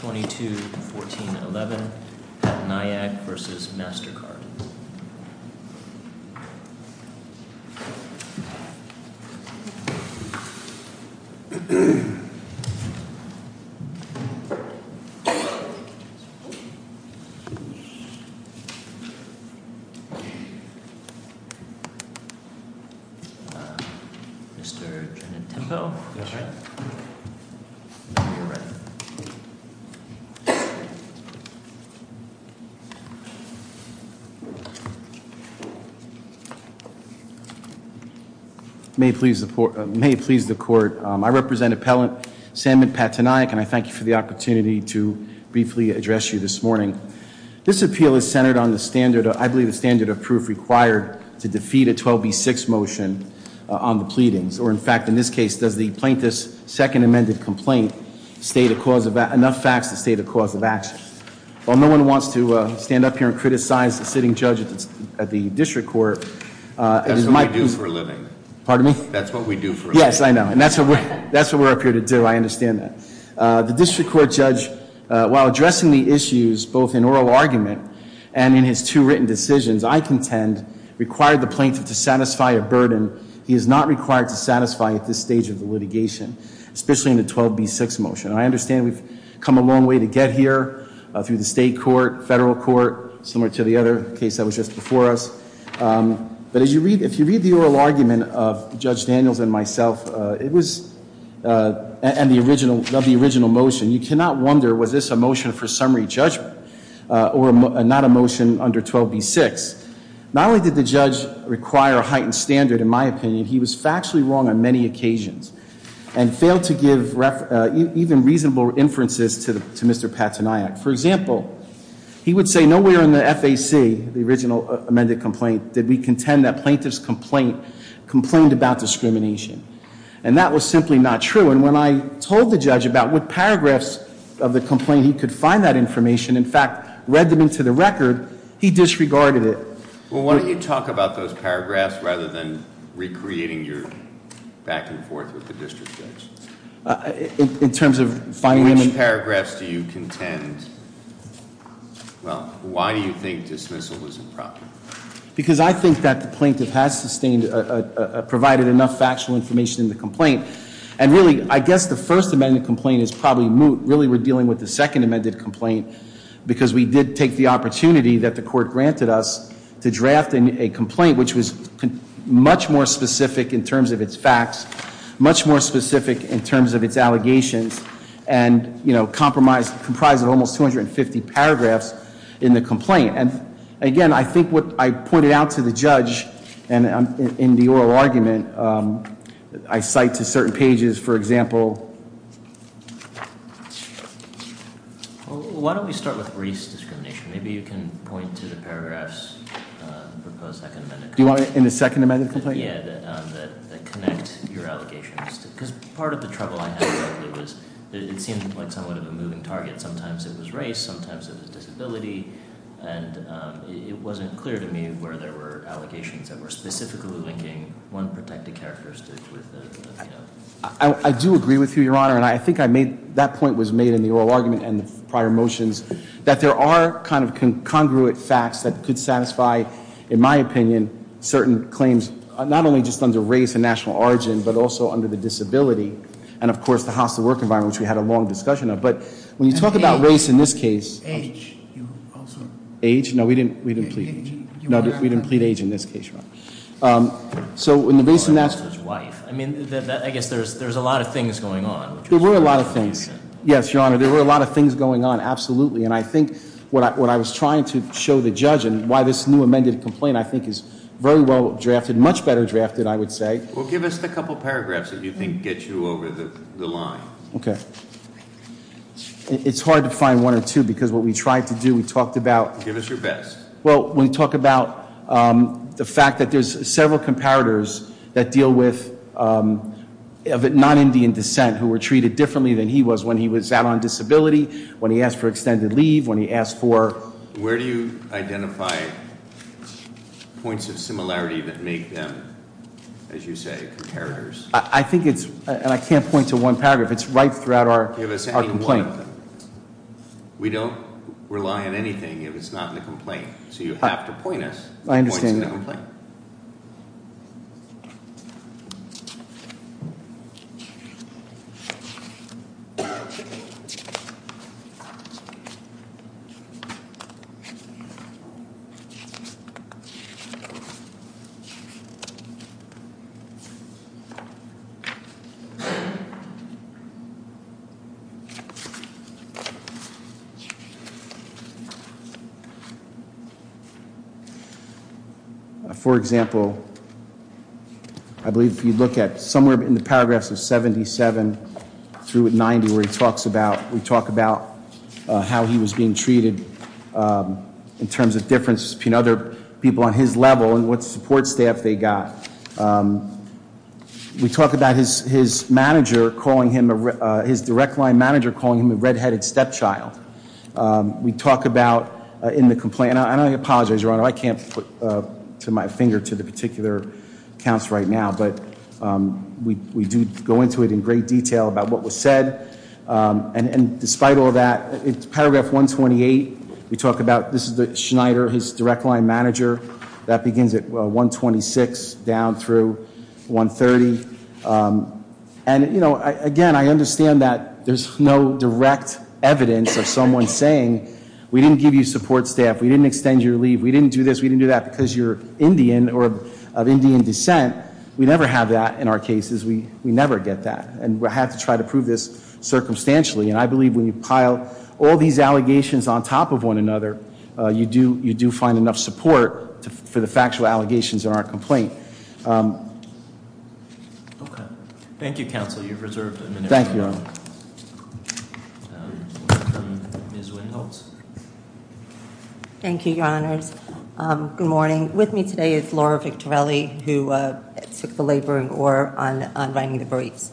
22-14-11, Pattanayak v. Mastercard Inc. Mr. President, appellant, Sandman Pattanayak, and I thank you for the opportunity to briefly address you this morning. This appeal is centered on the standard, I believe the standard of proof required to defeat a 12B6 motion on the pleadings. Or in fact, in this case, does the plaintiff's second amended complaint state a cause of, enough facts to state a cause of action? While no one wants to stand up here and criticize the sitting judge at the district court, it might be- That's what we do for a living. That's what we do for a living. Yes, I know, and that's what we're up here to do, I understand that. The district court judge, while addressing the issues, both in oral argument and in his two written decisions, I contend, required the plaintiff to satisfy a burden he is not required to satisfy at this stage of the litigation, especially in the 12B6 motion. And I understand we've come a long way to get here, through the state court, federal court, similar to the other case that was just before us. But if you read the oral argument of Judge Daniels and myself, and the original motion, you cannot wonder, was this a motion for summary judgment, or not a motion under 12B6? Not only did the judge require a heightened standard, in my opinion, he was factually wrong on many occasions, and failed to give even reasonable inferences to Mr. Pataniac. For example, he would say, nowhere in the FAC, the original amended complaint, did we contend that plaintiff's complaint complained about discrimination. And that was simply not true. And when I told the judge about what paragraphs of the complaint he could find that information, in fact, read them into the record, he disregarded it. Well, why don't you talk about those paragraphs, rather than recreating your back and forth with the district judge? In terms of finding them- In which paragraphs do you contend, well, why do you think dismissal was improper? Because I think that the plaintiff has sustained, provided enough factual information in the complaint. And really, I guess the first amended complaint is probably moot. Really, we're dealing with the second amended complaint, because we did take the opportunity that the court granted us to draft a complaint, which was much more specific in terms of its facts, much more specific in terms of its allegations. And comprised of almost 250 paragraphs in the complaint. And again, I think what I pointed out to the judge in the oral argument, I cite to certain pages, for example. Well, why don't we start with Reese discrimination? Maybe you can point to the paragraphs proposed second amended complaint. Do you want it in the second amended complaint? Yeah, that connect your allegations. Because part of the trouble I had was it seemed like somewhat of a moving target. Sometimes it was race, sometimes it was disability. And it wasn't clear to me where there were allegations that were specifically linking one protected characteristic with the other. I do agree with you, your honor. And I think that point was made in the oral argument and the prior motions. That there are kind of congruent facts that could satisfy, in my opinion, certain claims, not only just under race and national origin, but also under the disability. And of course, the hostile work environment, which we had a long discussion of. But when you talk about race in this case- Age, you also- Age? No, we didn't plead age. No, we didn't plead age in this case, your honor. So, in the base of that- His wife. I mean, I guess there's a lot of things going on. There were a lot of things. Yes, your honor, there were a lot of things going on, absolutely. And I think what I was trying to show the judge and why this new amended complaint, I think, is very well drafted, much better drafted, I would say. Well, give us the couple paragraphs that you think get you over the line. Okay. It's hard to find one or two, because what we tried to do, we talked about- Give us your best. Well, when you talk about the fact that there's several comparators that deal with non-Indian descent who were treated differently than he was when he was out on disability, when he asked for extended leave, when he asked for- Where do you identify points of similarity that make them, as you say, comparators? I think it's, and I can't point to one paragraph, it's right throughout our complaint. Give us any one of them. We don't rely on anything if it's not in the complaint. So you have to point us at the points in the complaint. I understand. Okay, so for example, I believe if you look at somewhere ハ in the paragraph, 77 through 90 where he talks about ハ we talk about how he was being treated in terms of differences between other people on his level and what support staff they got. We talk about his manager calling him ハ his direct line manager calling him a red-headed stepchild. We talk about in the complaint ハ and I apologize, Your Honor, I can't put my finger to the particular accounts right now. But we do go into it in great detail about what was said. And despite all that, paragraph 128, we talk about this is Schneider, his direct line manager. That begins at 126 down through 130. And, you know, again, I understand that there's no direct evidence of someone saying we didn't give you support staff. We didn't extend your leave. We didn't do this. We didn't do that because you're Indian or of Indian descent. We never have that in our cases. We never get that. And we'll have to try to prove this circumstantially. And I believe when you pile all these allegations on top of one another, you do find enough support for the factual allegations in our complaint. Okay. Thank you, Counsel. You've reserved a minute. Thank you, Your Honor. Thank you, Your Honors. Good morning. With me today is Laura Victorelli, who took the labor and gore on writing the briefs.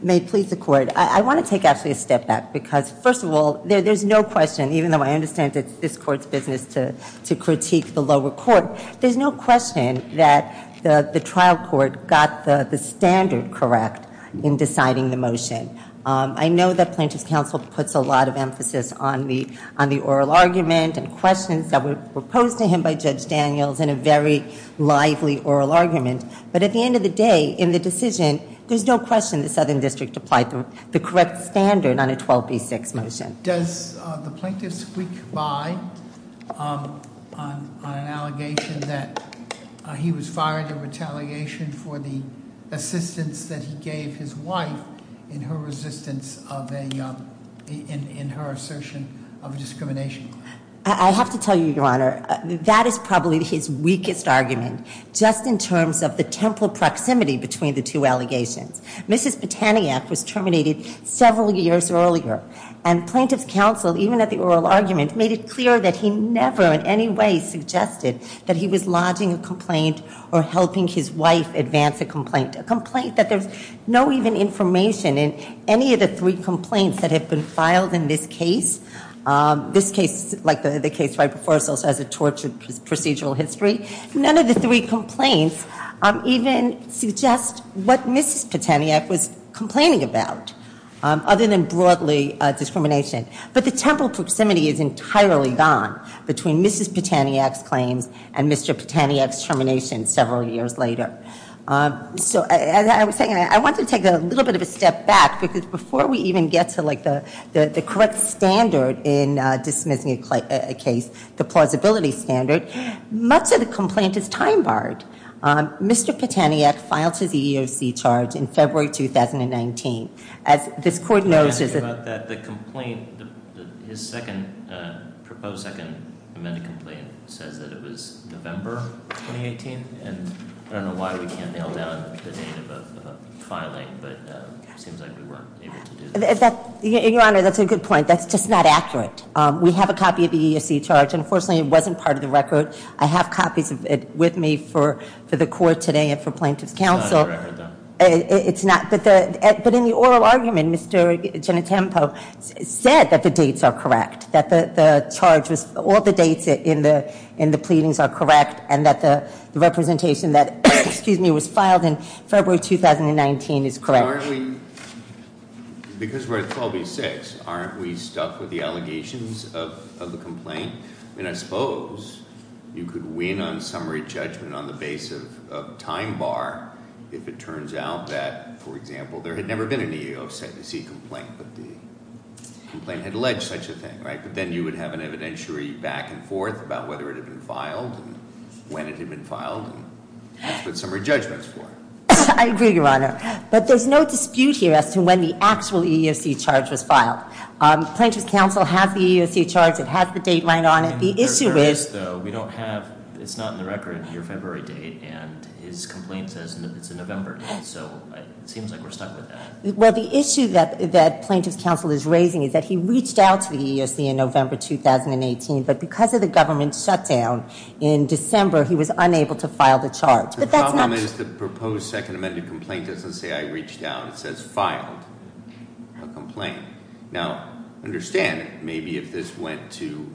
May it please the Court. I want to take actually a step back because, first of all, there's no question, even though I understand it's this Court's business to critique the lower court, there's no question that the trial court got the standard correct in deciding the motion. I know that Plaintiff's Counsel puts a lot of emphasis on the oral argument and questions that were posed to him by Judge Daniels in a very lively oral argument. But at the end of the day, in the decision, there's no question the Southern District applied the correct standard on a 12B6 motion. Does the plaintiff squeak by on an allegation that he was fired in retaliation for the assistance that he gave his wife in her resistance of a, in her assertion of discrimination? I have to tell you, Your Honor, that is probably his weakest argument. Just in terms of the temporal proximity between the two allegations. Mrs. Botaniac was terminated several years earlier, and Plaintiff's Counsel, even at the oral argument, made it clear that he never in any way suggested that he was lodging a complaint or helping his wife advance a complaint. A complaint that there's no even information in any of the three complaints that have been filed in this case. This case, like the case right before us, also has a tortured procedural history. None of the three complaints even suggest what Mrs. Botaniac was complaining about, other than broadly discrimination. But the temporal proximity is entirely gone between Mrs. Botaniac's claims and Mr. Botaniac's termination several years later. So as I was saying, I want to take a little bit of a step back, because before we even get to the correct standard in dismissing a case, the plausibility standard, much of the complaint is time barred. Mr. Botaniac filed his EEOC charge in February 2019. As this court knows- Can I ask you about that? The complaint, his second, proposed second amended complaint says that it was November 2018. And I don't know why we can't nail down the date of the filing, but it seems like we weren't able to do that. Your Honor, that's a good point. That's just not accurate. We have a copy of the EEOC charge. Unfortunately, it wasn't part of the record. I have copies of it with me for the court today and for plaintiff's counsel. It's not in the record, though. It's not. But in the oral argument, Mr. Genitempo said that the dates are correct. That the charge was, all the dates in the pleadings are correct. And that the representation that, excuse me, was filed in February 2019 is correct. Because we're at 12B6, aren't we stuck with the allegations of the complaint? And I suppose you could win on summary judgment on the base of time bar if it turns out that, for example, there had never been an EEOC complaint, but the complaint had alleged such a thing, right? But then you would have an evidentiary back and forth about whether it had been filed and when it had been filed. That's what summary judgment's for. I agree, Your Honor. But there's no dispute here as to when the actual EEOC charge was filed. Plaintiff's counsel has the EEOC charge. It has the date right on it. The issue is- There is, though. We don't have, it's not in the record, your February date. And his complaint says it's in November. So it seems like we're stuck with that. Well, the issue that plaintiff's counsel is raising is that he reached out to the EEOC in November 2018. But because of the government shutdown in December, he was unable to file the charge. The problem is the proposed second amended complaint doesn't say I reached out. It says filed a complaint. Now, understand, maybe if this went to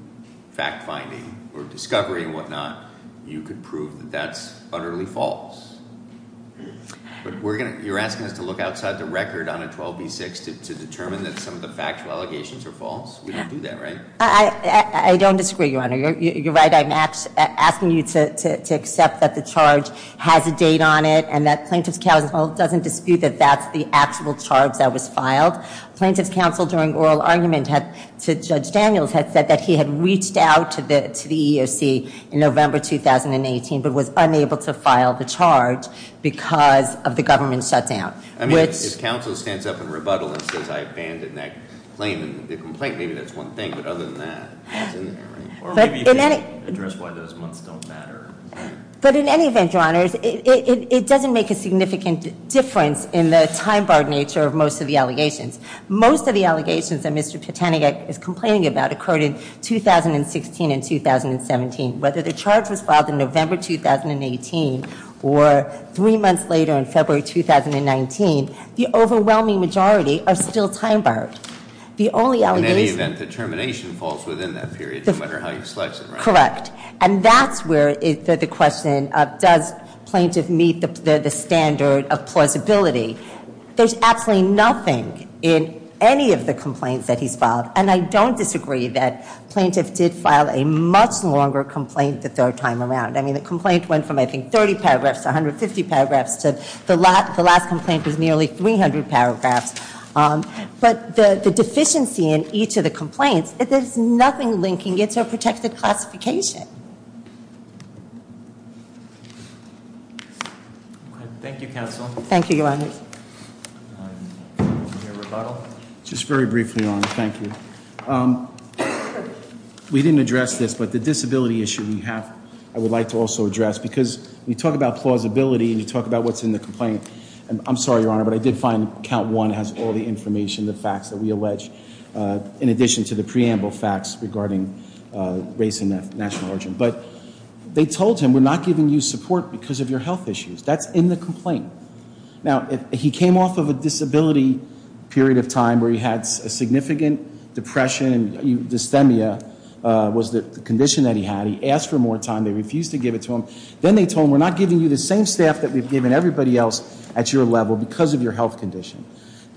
fact finding or discovery and whatnot, you could prove that that's utterly false. But you're asking us to look outside the record on a 12B6 to determine that some of the factual allegations are false? We don't do that, right? I don't disagree, Your Honor. You're right. I'm asking you to accept that the charge has a date on it. And that plaintiff's counsel doesn't dispute that that's the actual charge that was filed. Plaintiff's counsel, during oral argument to Judge Daniels, had said that he had reached out to the EEOC in November 2018, but was unable to file the charge because of the government shutdown. I mean, if counsel stands up in rebuttal and says I abandoned that complaint, maybe that's one thing. But other than that, it's in there, right? Or maybe you can address why those months don't matter. But in any event, Your Honors, it doesn't make a significant difference in the time-barred nature of most of the allegations. Most of the allegations that Mr. Patanagak is complaining about occurred in 2016 and 2017. Whether the charge was filed in November 2018 or three months later in February 2019, the overwhelming majority are still time-barred. The only allegation- Correct. And that's where the question of does plaintiff meet the standard of plausibility? There's absolutely nothing in any of the complaints that he's filed. And I don't disagree that plaintiff did file a much longer complaint the third time around. I mean, the complaint went from, I think, 30 paragraphs to 150 paragraphs to the last complaint was nearly 300 paragraphs. But the deficiency in each of the complaints, there's nothing linking it to a protected classification. Thank you, Counsel. Thank you, Your Honors. Just very briefly, Your Honor, thank you. We didn't address this, but the disability issue you have I would like to also address because when you talk about plausibility and you talk about what's in the complaint, I'm sorry, Your Honor, but I did find count one has all the information, the facts that we allege, in addition to the preamble facts regarding race and national origin. But they told him, we're not giving you support because of your health issues. That's in the complaint. Now, he came off of a disability period of time where he had a significant depression. Dysthemia was the condition that he had. He asked for more time. They refused to give it to him. Then they told him, we're not giving you the same staff that we've given everybody else at your level because of your health condition.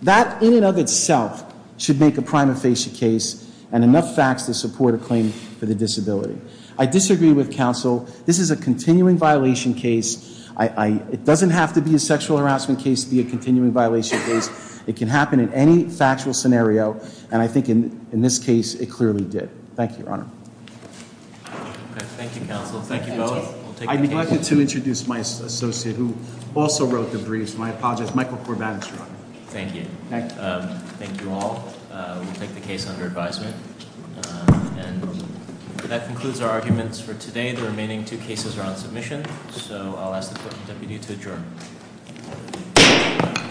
That in and of itself should make a prima facie case and enough facts to support a claim for the disability. I disagree with Counsel. This is a continuing violation case. It doesn't have to be a sexual harassment case to be a continuing violation case. It can happen in any factual scenario. And I think in this case, it clearly did. Thank you, Your Honor. Thank you, Counsel. Thank you both. I neglected to introduce my associate who also wrote the briefs. My apologies. Michael Corbett, Your Honor. Thank you. Thank you all. We'll take the case under advisement. And that concludes our arguments for today. The remaining two cases are on submission. So I'll ask the Court Deputy to adjourn.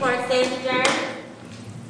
Court is adjourned.